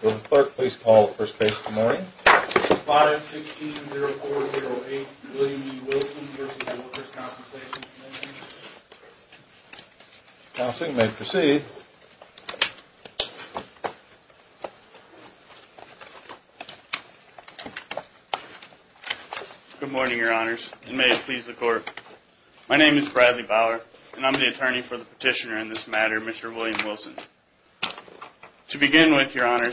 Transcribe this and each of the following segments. Good morning, Your Honors, and may it please the Court. My name is Bradley Bauer, and I'm the attorney for the petitioner in this matter, Mr. William Wilson. To begin with, Your Honor,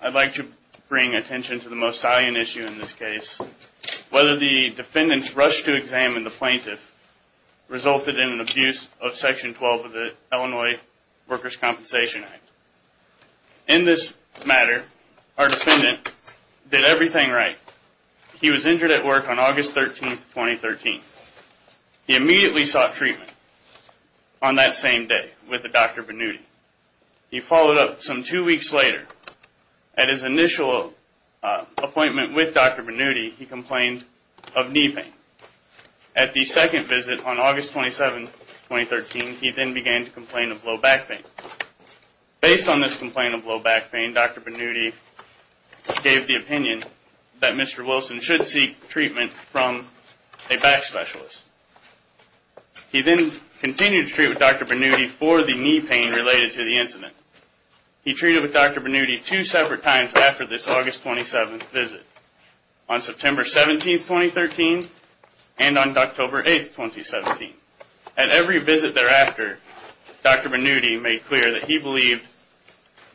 I'd like to bring attention to the most salient issue in this case, whether the defendant's rush to examine the plaintiff resulted in an abuse of Section 12 of the Illinois Workers' Compensation Act. In this matter, our defendant did everything right. He was injured at work on August 13, 2013. He immediately sought treatment on that same day with a Dr. Bannuti. He followed up some two weeks later. At his initial appointment with Dr. Bannuti, he complained of knee pain. At the second visit on August 27, 2013, he then began to complain of low back pain. Based on this complaint of low back pain, Dr. Bannuti gave the opinion that Mr. Wilson should seek treatment from a back specialist. He then continued to treat with Dr. Bannuti for the knee pain related to the incident. He treated with Dr. Bannuti two separate times after this August 27 visit, on September 17, 2013 and on October 8, 2017. At every visit thereafter, Dr. Bannuti made clear that he believed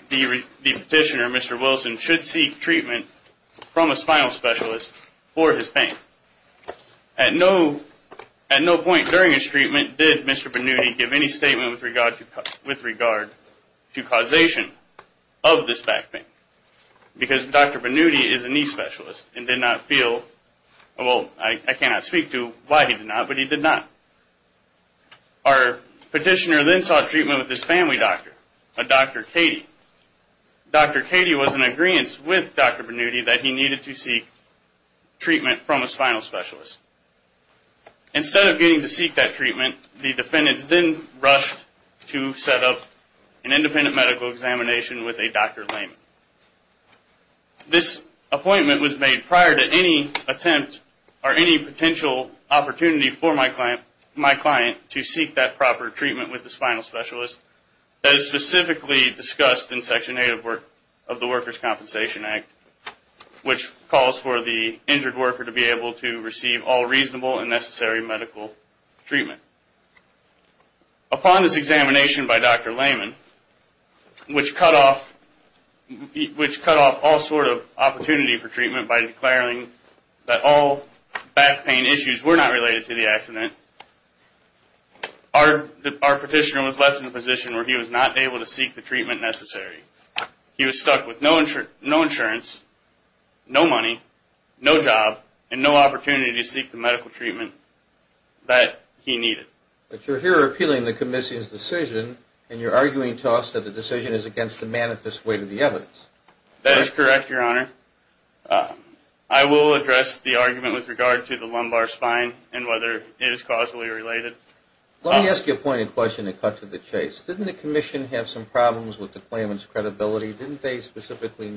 the petitioner, Mr. Wilson, should seek treatment from a spinal specialist for his pain. At no point during his treatment did Mr. Bannuti give any statement with regard to causation of this back pain because Dr. Bannuti is a knee specialist and did not feel, well, I cannot speak to why he did not, but he did not. Our petitioner then sought treatment with his family doctor, a Dr. Cady. Dr. Cady was in agreeance with Dr. Bannuti that he needed to seek treatment from a spinal specialist. Instead of getting to seek that treatment, the defendants then rushed to set up an independent medical examination with a Dr. Layman. This appointment was made prior to any attempt or any potential opportunity for my client to seek that proper treatment with the spinal specialist as specifically discussed in Section 8 of the Workers' Compensation Act, which calls for the injured worker to be able to receive all Upon this examination by Dr. Layman, which cut off all sort of opportunity for treatment by declaring that all back pain issues were not related to the accident, our petitioner was left in a position where he was not able to seek the treatment necessary. He was stuck with no insurance, no money, no job, and no opportunity to seek the medical treatment that he needed. But you're here appealing the commission's decision, and you're arguing to us that the decision is against the manifest weight of the evidence. That is correct, your honor. I will address the argument with regard to the lumbar spine and whether it is causally related. Let me ask you a pointed question to cut to the chase. Didn't the commission have some problems with the claimant's credibility? Didn't they specifically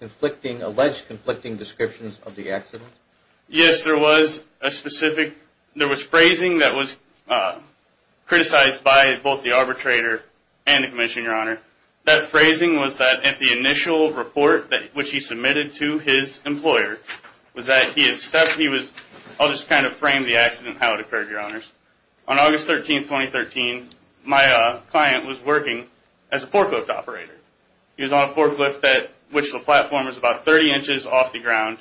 conflicting, alleged conflicting descriptions of the accident? Yes, there was a specific, there was phrasing that was criticized by both the arbitrator and the commission, your honor. That phrasing was that at the initial report that which he submitted to his employer was that he had stepped, he was, I'll just kind of frame the accident, how it occurred, your honors. On August 13, 2013, my client was working as a forklift operator. He was on a forklift that was about 30 inches off the ground.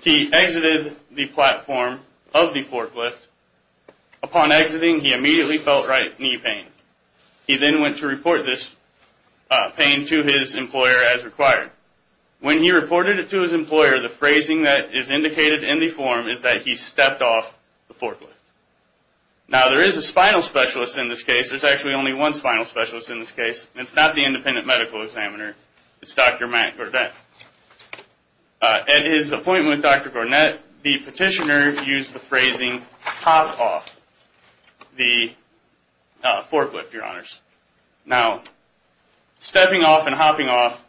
He exited the platform of the forklift. Upon exiting, he immediately felt right knee pain. He then went to report this pain to his employer as required. When he reported it to his employer, the phrasing that is indicated in the form is that he stepped off the forklift. Now, there is a spinal specialist in this case. There's actually only one spinal specialist in this case. It's not the independent medical examiner. It's Dr. Matt Gourdet. At his appointment with Dr. Gourdet, the petitioner used the phrasing, hop off the forklift, your honors. Now, stepping off and hopping off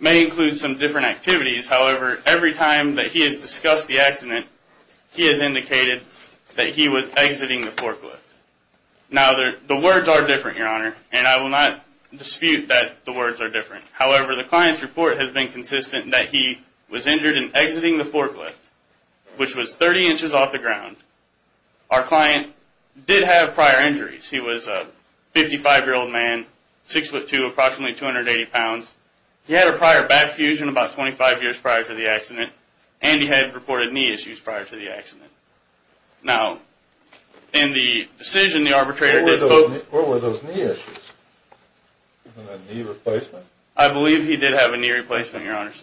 may include some different activities. However, every time that he has discussed the accident, he has indicated that he was exiting the forklift. Now, the words are different, and I will not dispute that the words are different. However, the client's report has been consistent that he was injured in exiting the forklift, which was 30 inches off the ground. Our client did have prior injuries. He was a 55-year-old man, 6'2", approximately 280 pounds. He had a prior back fusion about 25 years prior to the accident, and he had reported knee issues prior to the accident. Now, in the decision, the arbitrator What were those knee issues? Was it a knee replacement? I believe he did have a knee replacement, your honors.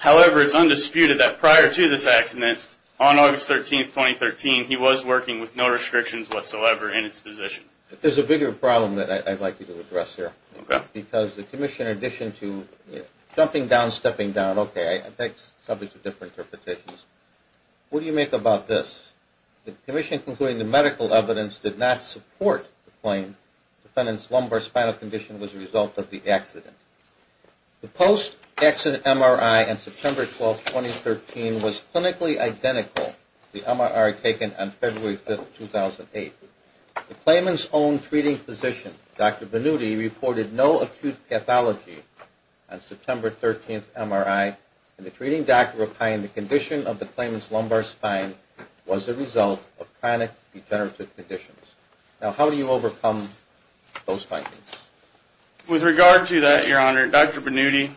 However, it's undisputed that prior to this accident, on August 13, 2013, he was working with no restrictions whatsoever in his position. There's a bigger problem that I'd like you to address here, because the commission, in addition to jumping down, stepping down, okay, I think some of these are different interpretations. What do you make about this? The commission, including the medical evidence, did not support the claim the defendant's lumbar spinal condition was a result of the accident. The post-accident MRI on September 12, 2013, was clinically identical to the MRI taken on February 5, 2008. The claimant's own treating physician, Dr. Benuti, reported no acute pathology on September 13 MRI, and the treating doctor replying the condition of the claimant's lumbar spine was a result of chronic degenerative conditions. Now, how do you overcome those findings? With regard to that, your honor, Dr. Benuti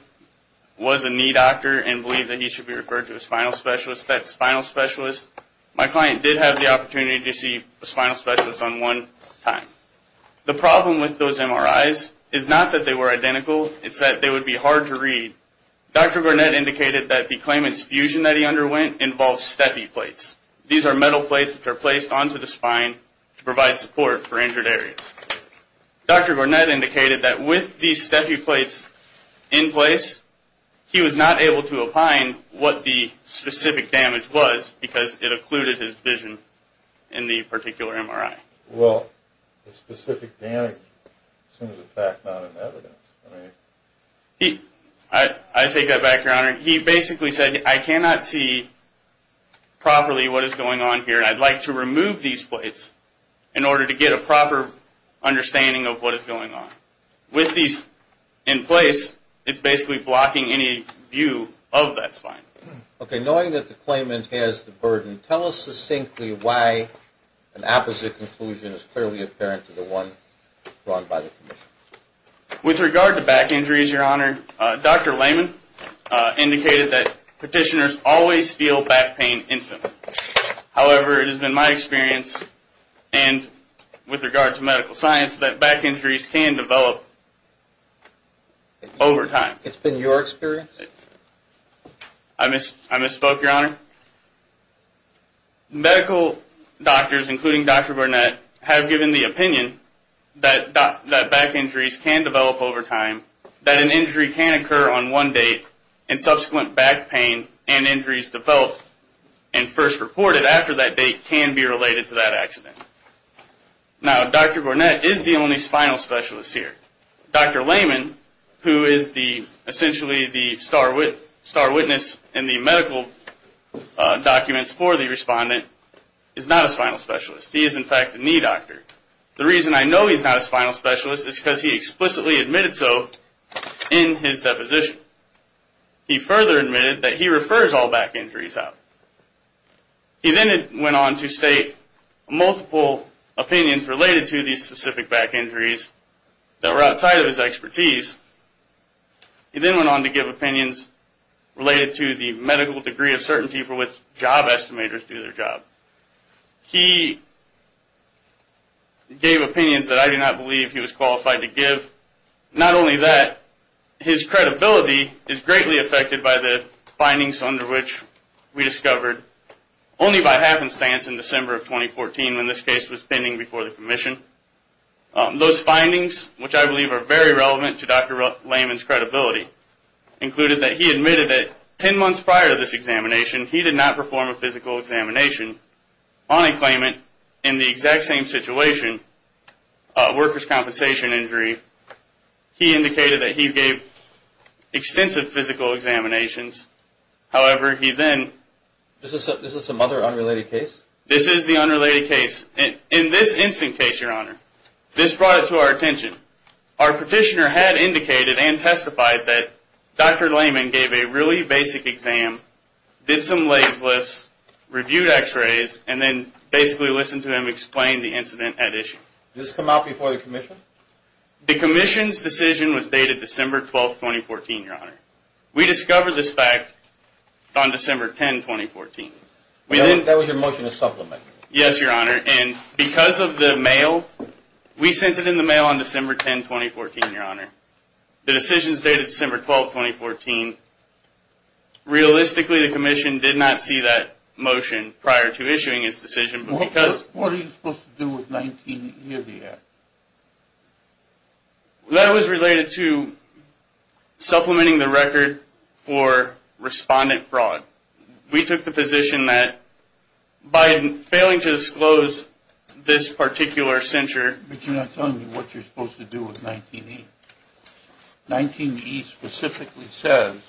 was a knee doctor and believed that he should be referred to a spinal specialist. That spinal specialist, my client did have the opportunity to see a spinal specialist on one time. The problem with those MRIs is not that they were identical, it's that they would be hard to read. Dr. Garnett indicated that the claimant's fusion that he underwent involved steffi plates. These are metal plates that are placed onto the spine to provide support for injured areas. Dr. Garnett indicated that with these steffi plates in place, he was not able to opine what the specific damage was, because it occluded his vision in the particular MRI. Well, the specific damage is in fact not in evidence. I take that back, your honor. He basically said, I cannot see properly what is going on here, and I'd like to remove these plates in order to get a proper understanding of what is going on. With these in place, it's basically blocking any view of that spine. Okay, knowing that the spine is blocked, I can see why an opposite conclusion is clearly apparent to the one drawn by the commission. With regard to back injuries, your honor, Dr. Lehman indicated that petitioners always feel back pain instantly. However, it has been my experience, and with regard to medical science, that back injuries can develop over time. It's been your experience? I misspoke, your honor. Medical doctors, including Dr. Garnett, have given the opinion that back injuries can develop over time, that an injury can occur on one date, and subsequent back pain and injuries developed and first reported after that date can be related to that accident. Now, Dr. Garnett is the only spinal specialist here. Dr. Lehman, who is essentially the star witness in the medical documents for the respondent, is not a spinal specialist. He is, in fact, a knee doctor. The reason I know he's not a spinal specialist is because he explicitly admitted so in his deposition. He further admitted that he refers all back injuries out. He then went on to state multiple opinions related to these specific back injuries that were outside of his expertise. He then went on to give opinions related to the medical degree of certainty for which job estimators do their job. He gave opinions that I do not believe he was qualified to give. Not only that, his credibility is greatly affected by the findings under which we discovered only by happenstance in December of 2014 when this case was pending before the commission. Those findings, which I believe are very relevant to Dr. Lehman's 10 months prior to this examination, he did not perform a physical examination on a claimant in the exact same situation, a worker's compensation injury. He indicated that he gave extensive physical examinations. However, he then... This is some other unrelated case? This is the unrelated case. In this instant case, your honor, this brought it to our attention. Our petitioner had indicated and testified that Dr. Lehman gave a really basic exam, did some leg lifts, reviewed x-rays, and then basically listened to him explain the incident at issue. Did this come out before the commission? The commission's decision was dated December 12, 2014, your honor. We discovered this fact on December 10, 2014. That was your motion to your honor. The decision is dated December 12, 2014. Realistically, the commission did not see that motion prior to issuing his decision because... What are you supposed to do with 19 year there? That was related to supplementing the record for respondent fraud. We took the position that by failing to disclose this particular censure... But you're not telling me what you're supposed to do with 19E. 19E specifically says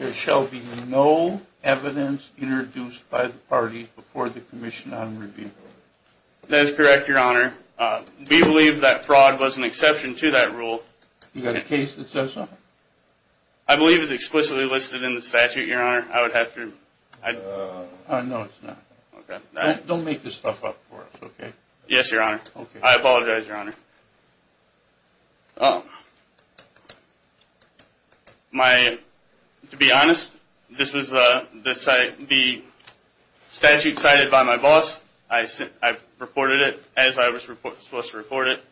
there shall be no evidence introduced by the parties before the commission on review. That is correct, your honor. We believe that fraud was an exception to that rule. You got a case that says something? I believe it's explicitly listed in the statute, your honor. I would have to... No, it's not. Don't make this stuff up for us, okay? Yes, I apologize, your honor. To be honest, this was the statute cited by my boss. I reported it as I was supposed to report it.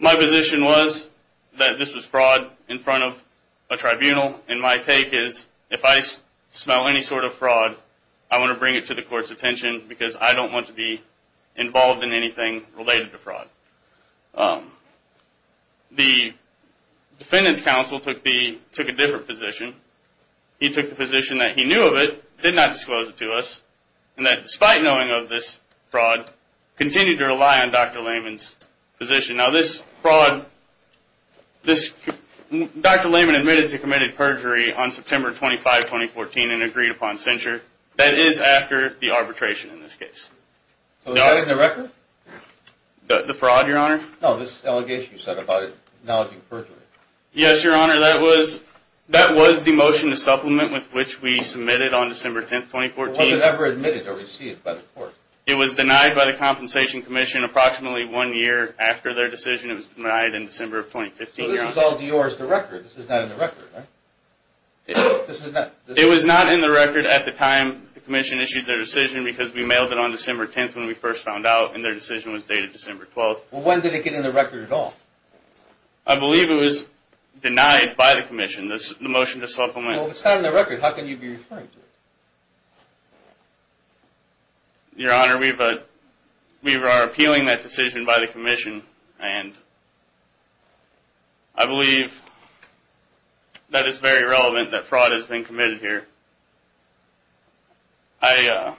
My position was that this was fraud in front of a tribunal, and my take is if I smell any sort of fraud, I want to bring it to the court's attention because I don't want to be involved in anything related to fraud. The defendant's counsel took a different position. He took the position that he knew of it, did not disclose it to us, and that despite knowing of this fraud, continued to rely on Dr. Layman's position. Now this fraud... Dr. Layman admitted to committed perjury on September 25, 2014 and agreed upon censure. That is after the arbitration in this case. So is that in the record? The fraud, your honor? No, this allegation you said about it, acknowledging perjury. Yes, your honor, that was the motion to supplement with which we submitted on December 10, 2014. Was it ever admitted or received by the court? It was denied by the Compensation Commission approximately one year after their decision. It was denied in December of 2015, your honor. So this was all yours, the record. This is not in the record, right? It was not in the record at the time the Commission issued their decision because we mailed it on December 10th when we first found out and their decision was dated December 12th. Well, when did it get in the record at all? I believe it was denied by the Commission, the motion to supplement. Well, if it's not in the record, how can you be referring to it? Your honor, we are appealing that decision by the Commission and I believe that it's very relevant that fraud has been committed here. I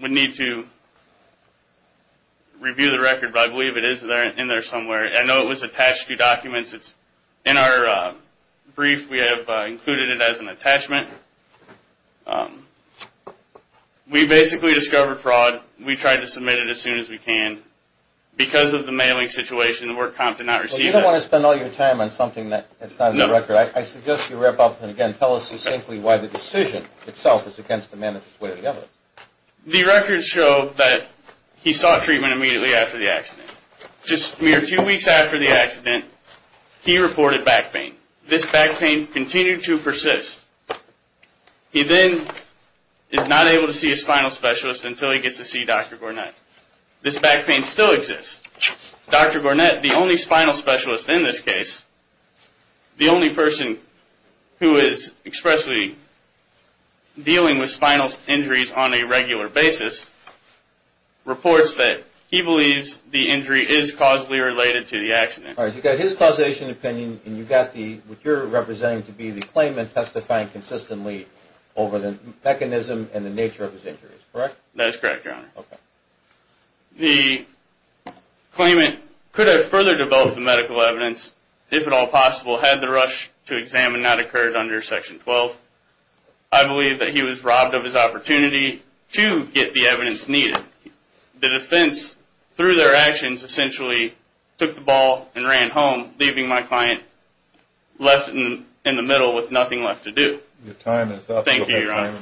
would need to review the record, but I believe it is in there somewhere. I know it was attached to documents. It's in our brief. We have included it as an attachment. We basically discovered fraud. We tried to submit it as soon as we can because of the mailing situation. The work comp did not receive it. You don't want to spend all your time on something that is not in the record. I suggest you wrap up and again tell us succinctly why the decision itself is against the manifest way of the evidence. The records show that he sought treatment immediately after the accident. Just a mere few weeks after the accident, he reported back pain. This back pain continued to persist. He then is not able to see his final specialist until he gets to see Dr. Gornett. This back pain still exists. Dr. Gornett, the only spinal specialist in this case, the only person who is expressly dealing with spinal injuries on a regular basis, reports that he believes the injury is causally related to the accident. You've got his causation opinion and you've got what you're representing to be the claimant testifying consistently over the mechanism and the nature of his injuries, correct? That is correct, your honor. The claimant could have further developed the medical evidence if at all possible had the rush to examine not occurred under section 12. I believe that he was robbed of his opportunity to get the evidence needed. The defense through their actions essentially took the ball and ran home leaving my client left in the middle with nothing left to do. Your time is up. Thank you, your honor.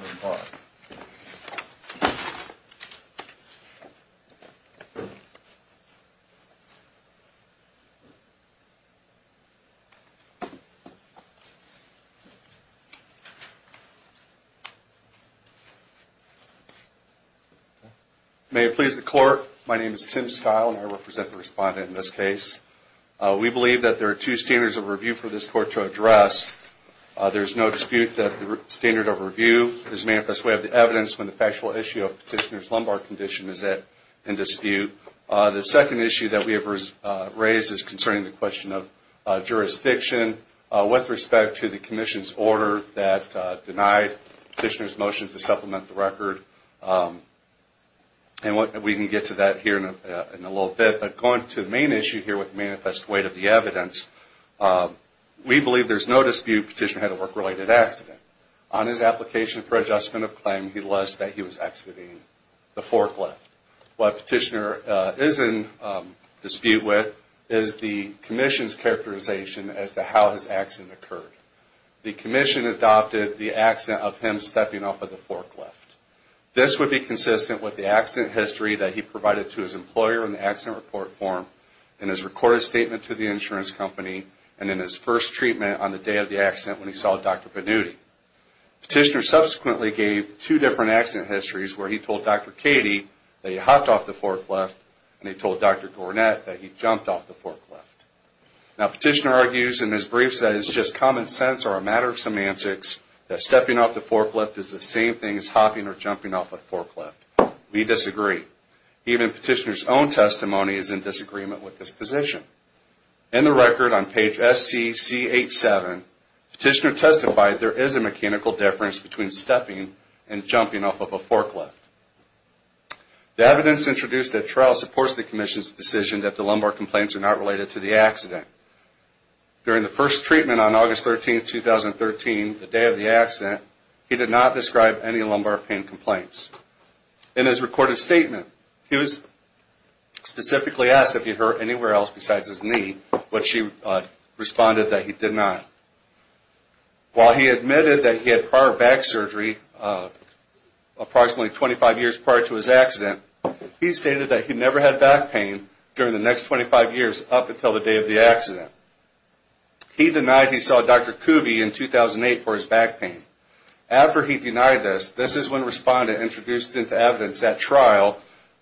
May it please the court, my name is Tim Stile and I represent the respondent in this case. We believe that there are two standards of review for this court to address. There is no dispute that the standard of review is manifest. We have the evidence when the factual issue of petitioner's lumbar condition is in dispute. The second issue that we have raised is concerning the question of jurisdiction with respect to the commission's order that denied petitioner's motion to supplement the record and we can get to that here in a little bit but going to the main issue here with manifest weight of the evidence, we believe there is no dispute petitioner had a work-related accident. On his application for adjustment of claim, he lists that he was exiting the forklift. What petitioner is in dispute with is the commission's characterization as to how his accident occurred. The commission adopted the accident of him stepping off of the forklift. This would be consistent with the accident history that he provided to his employer in the accident report form in his recorded statement to the insurance company and in his first treatment on the day of the accident when he saw Dr. Benutti. Petitioner subsequently gave two different accident histories where he told Dr. Katie that he hopped off the forklift and he told Dr. Gornett that he jumped off the forklift. Now petitioner argues in his briefs that it's just common sense or a matter of semantics that stepping off the forklift is the same thing as hopping or jumping off a forklift. We disagree. Even petitioner's own testimony is in disagreement with this position. In the record on page SCC87, petitioner testified there is a mechanical difference between stepping and jumping off of a forklift. The evidence introduced at trial supports the commission's decision that the lumbar complaints are not related to the accident. During the first treatment on August 13, 2013, the day of the accident, he did not describe any lumbar pain complaints. In his recorded statement, he was specifically asked if he hurt anywhere else besides his knee, but she responded that he did not. While he admitted that he had prior back surgery, approximately 25 years prior to his accident, he stated that he never had back pain during the next 25 years up until the day of the accident. He denied he saw Dr. Kuby in 2008 for his back pain. After he denied this, this is when respondent introduced into evidence at trial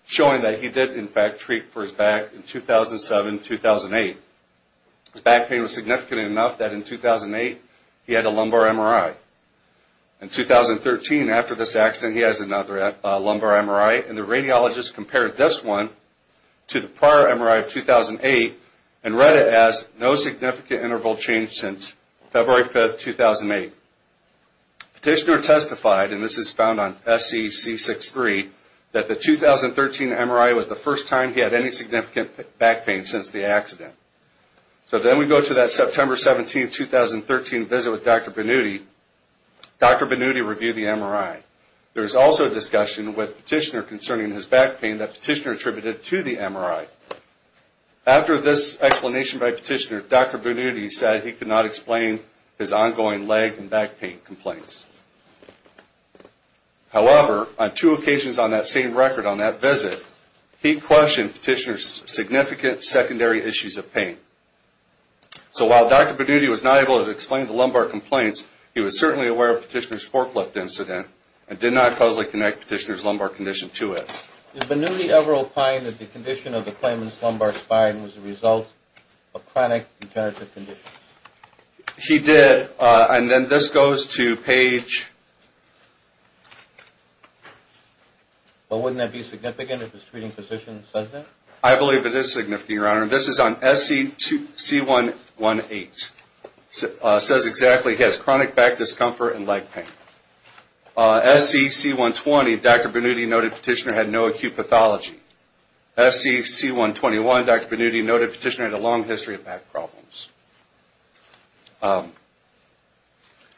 showing that he did in fact treat for his back in 2007-2008. His back pain was significant enough that in 2008 he had a lumbar MRI. In 2013, after this accident, he has another lumbar MRI and the radiologist compared this one to the prior MRI of 2008 and read it as no significant interval change since February 5, 2008. Petitioner testified, and this is found on SEC63, that the 2013 MRI was the first time he had any significant back pain since the accident. So then we go to that September 17, 2013 visit with Dr. Benuti. Dr. Benuti reviewed the MRI. There is also a discussion with Petitioner concerning his back pain that Petitioner attributed to the MRI. After this explanation by Petitioner, Dr. Benuti said he could not explain his ongoing leg and back pain complaints. However, on two occasions on that same record on that visit, he questioned Petitioner's significant secondary issues of pain. So while Dr. Benuti was not able to explain the lumbar complaints, he was certainly aware of Petitioner's forklift incident and did not causally connect Petitioner's Is Benuti ever opined that the condition of the claimant's lumbar spine was the result of chronic degenerative conditions? He did, and then this goes to page... But wouldn't that be significant if his treating physician says that? I believe it is significant, Your Honor. This is on SEC118. It says exactly, he has chronic back discomfort and leg pain. SEC120, Dr. Benuti noted Petitioner had no acute pathology. SEC121, Dr. Benuti noted Petitioner had a long history of back problems.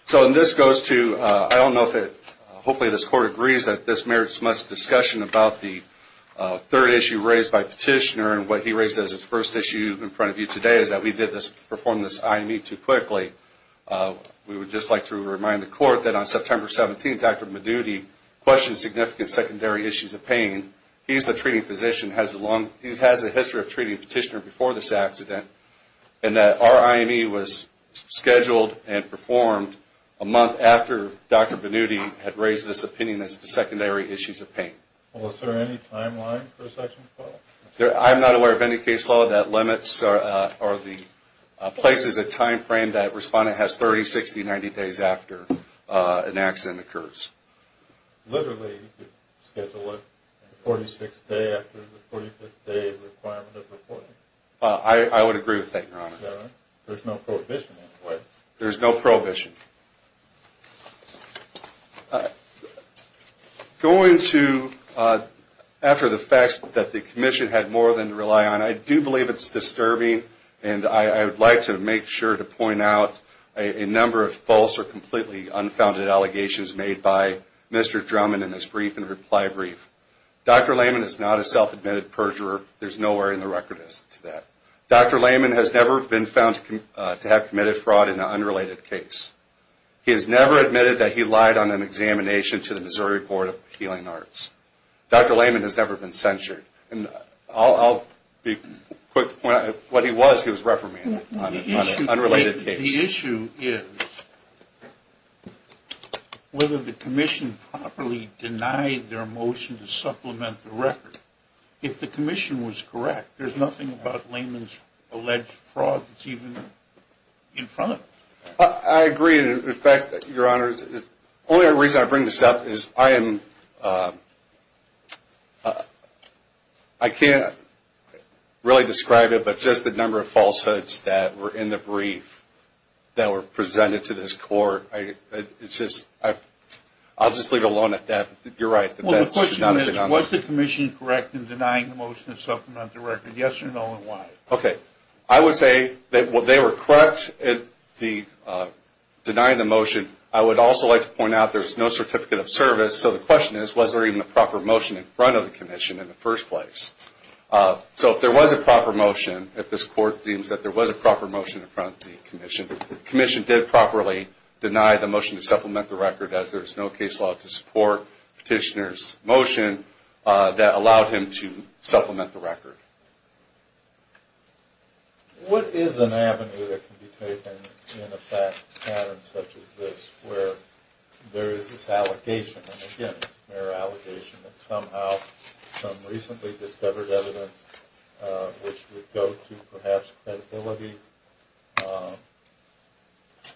So this goes to, I don't know if it, hopefully this Court agrees that this merits much discussion about the third issue raised by Petitioner and what he raised as his first issue in front of you today is that we did this, performed this IME too quickly. We would just like to remind the Court that on September 17, Dr. Benuti questioned significant secondary issues of pain. He's the treating physician, he has a long, he has a history of treating Petitioner before this accident and that our IME was scheduled and performed a month after Dr. Benuti had raised this opinion as to secondary issues of pain. Well, is there any timeline for SEC112? I'm not aware of any case law that limits or places a time frame that a respondent has 30, 60, 90 days after an accident occurs. Literally, you could schedule a 46th day after the 45th day of the requirement of reporting. I would agree with that, Your Honor. There's no prohibition in place. There's no prohibition. Going to, after the facts that the Commission had more than to rely on, I do believe it's disturbing and I would like to make sure to point out a number of false or completely unfounded allegations made by Mr. Drummond in his brief and reply brief. Dr. Lehman is not a self-admitted perjurer. There's nowhere in the record as to that. Dr. Lehman has never been found to have committed fraud in an unrelated case. He has never admitted that he lied on an examination to the Missouri Board of Appealing Arts. Dr. Lehman has never been censured. And I'll be quick. What he was, he was reprimanded on an unrelated case. The issue is whether the Commission properly denied their motion to supplement the record. If the Commission was correct, there's nothing about Lehman's alleged fraud that's even in front of it. I agree. In fact, Your Honor, the only reason I bring this up is I am, I can't really describe it, but just the number of falsehoods that were in the brief that were presented to this court. It's just, I'll just leave it alone at that. You're right. The question is, was the Commission correct in denying the motion to supplement the record? Yes or no and why? Okay. I would say that they were correct in denying the motion. I would also like to point out there's no certificate of service, so the question is, was there even a proper motion in front of the Commission in the first place? So if there was a proper motion, if this court deems that there was a proper motion in front of the Commission, the Commission did properly deny the motion to supplement the record as there's no case law to support Petitioner's motion that allowed him to supplement the record. What is an avenue that can be taken in a fact pattern such as this where there is this allegation, and again it's a mere allegation, that somehow some recently discovered evidence which would go to perhaps credibility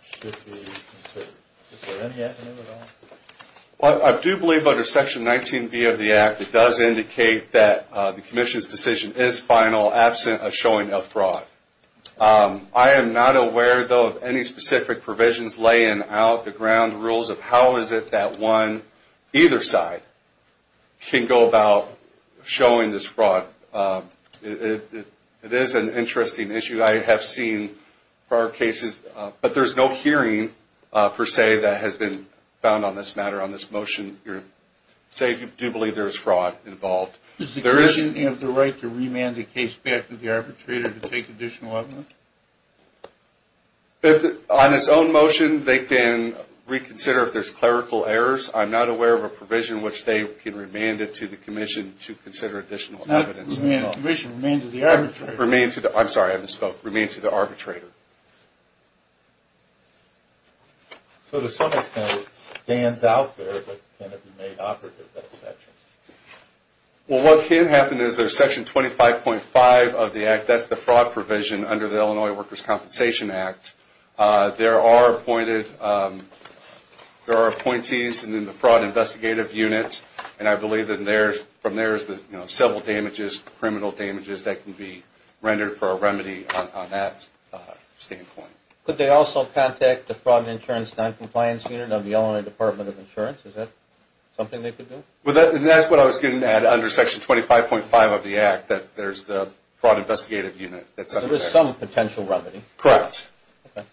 should be considered? Is there any avenue at all? I do believe under Section 19B of the Act, it does indicate that the Commission's decision is final, absent a showing of fraud. I am not aware though of any specific provisions laying out the ground rules of how is it that one, either side, can go about showing this fraud. It is an interesting issue. I have seen prior cases, but there's no hearing, per se, that has been found on this matter, on this motion. I do believe there is fraud involved. Does the Commission have the right to remand the case back to the arbitrator to take additional evidence? On its own motion, they can reconsider if there's clerical errors. I'm not aware of a provision which they can remand it to the Commission to consider additional evidence. It's not remand to the Commission, it's remand to the arbitrator. Remand to the, I'm sorry, I misspoke, remand to the arbitrator. So to some extent, it stands out there, but can it be made operative, that section? Well, what can happen is there's Section 25.5 of the Act, that's the fraud provision under the Illinois Workers' Compensation Act. There are appointed, there are appointees in the Fraud Investigative Unit, and I believe that from there is the civil damages, criminal damages that can be rendered for a remedy on that standpoint. Could they also contact the Fraud Insurance Noncompliance Unit of the Illinois Department of Insurance? Is that something they could do? That's what I was getting at under Section 25.5 of the Act, that there's the Fraud Investigative Unit. So there's some potential remedy? Correct. Okay.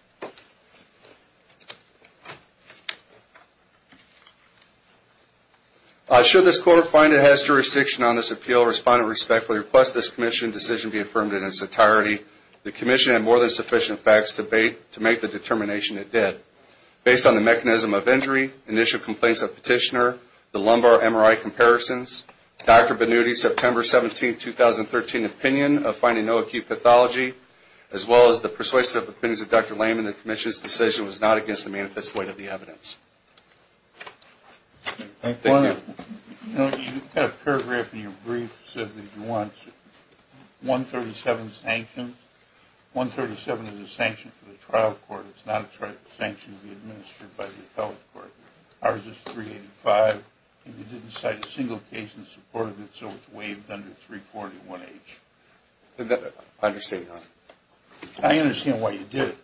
Should this court find it has jurisdiction on this appeal, respond to it respectfully, request this Commission decision be affirmed in its entirety. The Commission had more than sufficient facts to make the determination it did. Based on the mechanism of injury, initial complaints of petitioner, the lumbar MRI comparisons, Dr. Benuti's September 17, 2013 opinion of finding no acute pathology, as well as the persuasive opinions of Dr. Lehman, the Commission's decision was not against the manifest point of the evidence. Thank you. You had a paragraph in your brief that said that you want 137 sanctions. 137 is a sanction for the trial court. It's not a sanction to be administered by the appellate court. Ours is 385, and you didn't cite a single case in support of it, so it's waived under 341H. I understand. I understand why you did it.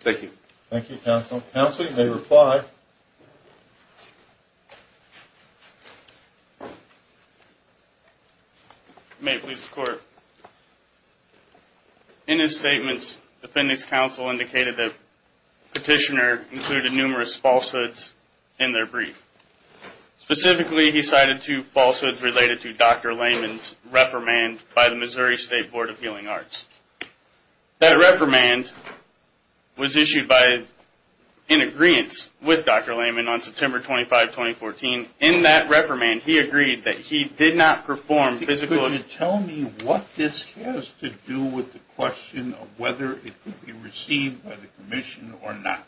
Thank you. Thank you, counsel. Counsel, you may reply. May it please the Court. In his statements, defendant's counsel indicated that petitioner included numerous falsehoods in their brief. Specifically, he cited two falsehoods related to Dr. Lehman's reprimand by the Missouri State Board of Healing Arts. That reprimand was issued by an agreeance with Dr. Lehman on September 25, 2014. In that reprimand, he agreed that he did not perform physical... Could you tell me what this has to do with the question of whether it could be received by the Commission or not?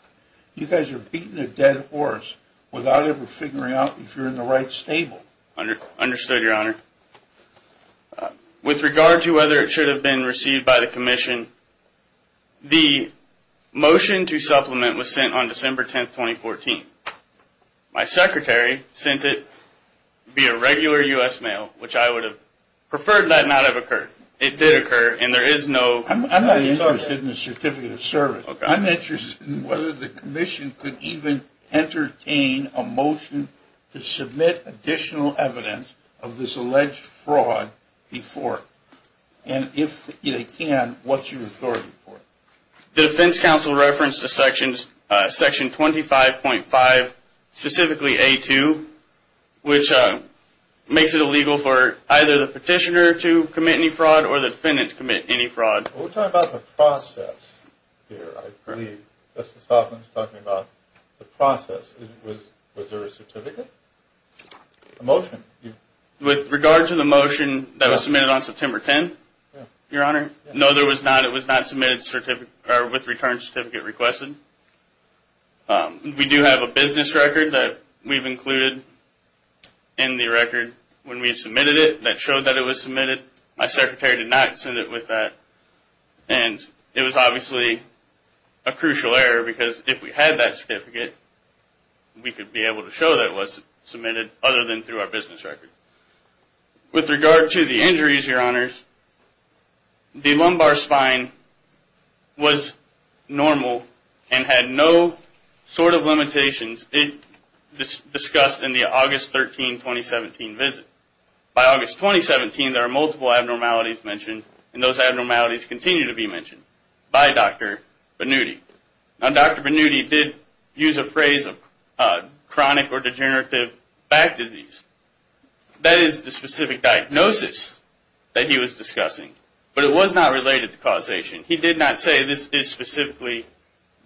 You guys are beating a dead horse without ever figuring out if you're in the right stable. Understood, Your Honor. With regard to whether it should have been received by the Commission, the motion to supplement was sent on December 10, 2014. My secretary sent it via regular U.S. mail, which I would have preferred that not have occurred. It did occur, and there is no... I'm not interested in the certificate of service. I'm interested in whether the Commission could even entertain a motion to submit additional evidence of this alleged fraud before it. And if they can, what's your authority for it? The defense counsel referenced section 25.5, specifically A2, We're talking about the process here, I believe. Justice Hoffman is talking about the process. Was there a certificate? A motion? With regard to the motion that was submitted on September 10, Your Honor, no, there was not. It was not submitted with a return certificate requested. We do have a business record that we've included in the record when we submitted it that showed that it was submitted. My secretary did not send it with that, and it was obviously a crucial error because if we had that certificate, we could be able to show that it was submitted other than through our business record. With regard to the injuries, Your Honors, the lumbar spine was normal and had no sort of limitations discussed in the August 13, 2017 visit. By August 2017, there are multiple abnormalities mentioned, and those abnormalities continue to be mentioned by Dr. Bannuti. Now, Dr. Bannuti did use a phrase of chronic or degenerative back disease. That is the specific diagnosis that he was discussing, but it was not related to causation. He did not say this is specifically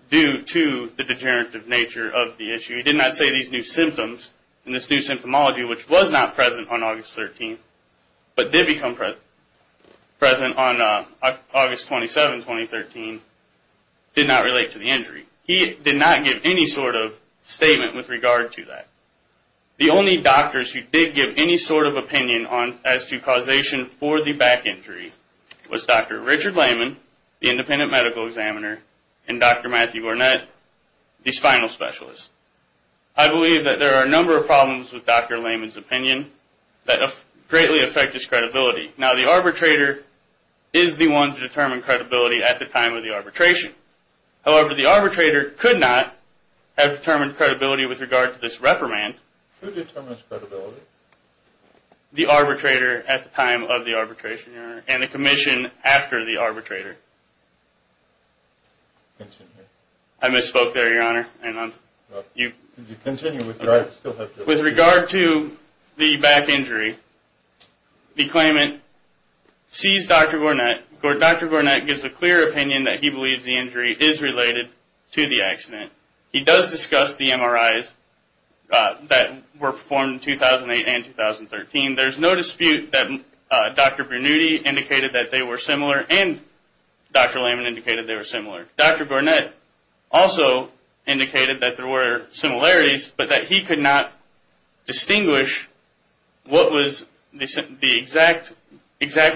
due to the degenerative nature of the issue. He did not say these new symptoms and this new symptomology, which was not present on August 13, but did become present on August 27, 2013, did not relate to the injury. He did not give any sort of statement with regard to that. The only doctors who did give any sort of opinion as to causation for the back injury was Dr. Richard Lehman, the independent medical examiner, and Dr. Matthew Gornett, the spinal specialist. I believe that there are a number of problems with Dr. Lehman's opinion that greatly affect his credibility. Now, the arbitrator is the one to determine credibility at the time of the arbitration. However, the arbitrator could not have determined credibility with regard to this reprimand. Who determines credibility? The arbitrator at the time of the arbitration, Your Honor, and the commission after the arbitrator. Continue. I misspoke there, Your Honor. With regard to the back injury, the claimant sees Dr. Gornett. Dr. Gornett gives a clear opinion that he believes the injury is related to the accident. He does discuss the MRIs that were performed in 2008 and 2013. There's no dispute that Dr. Bernuti indicated that they were similar and Dr. Lehman indicated they were similar. Dr. Gornett also indicated that there were similarities, but that he could not distinguish what was exactly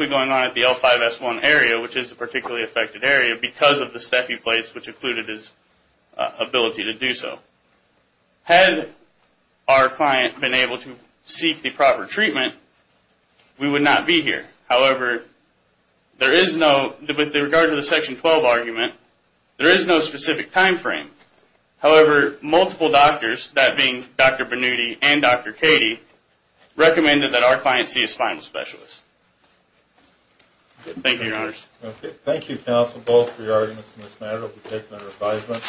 going on at the L5-S1 area, which is the particularly affected area, because of the stephy plates, which included his ability to do so. Had our client been able to seek the proper treatment, we would not be here. However, there is no, with regard to the Section 12 argument, there is no specific time frame. However, multiple doctors, that being Dr. Bernuti and Dr. Cady, recommended that our client see a spinal specialist. Thank you, Your Honors. Thank you, counsel, both for your arguments in this matter. We'll take them under advisement.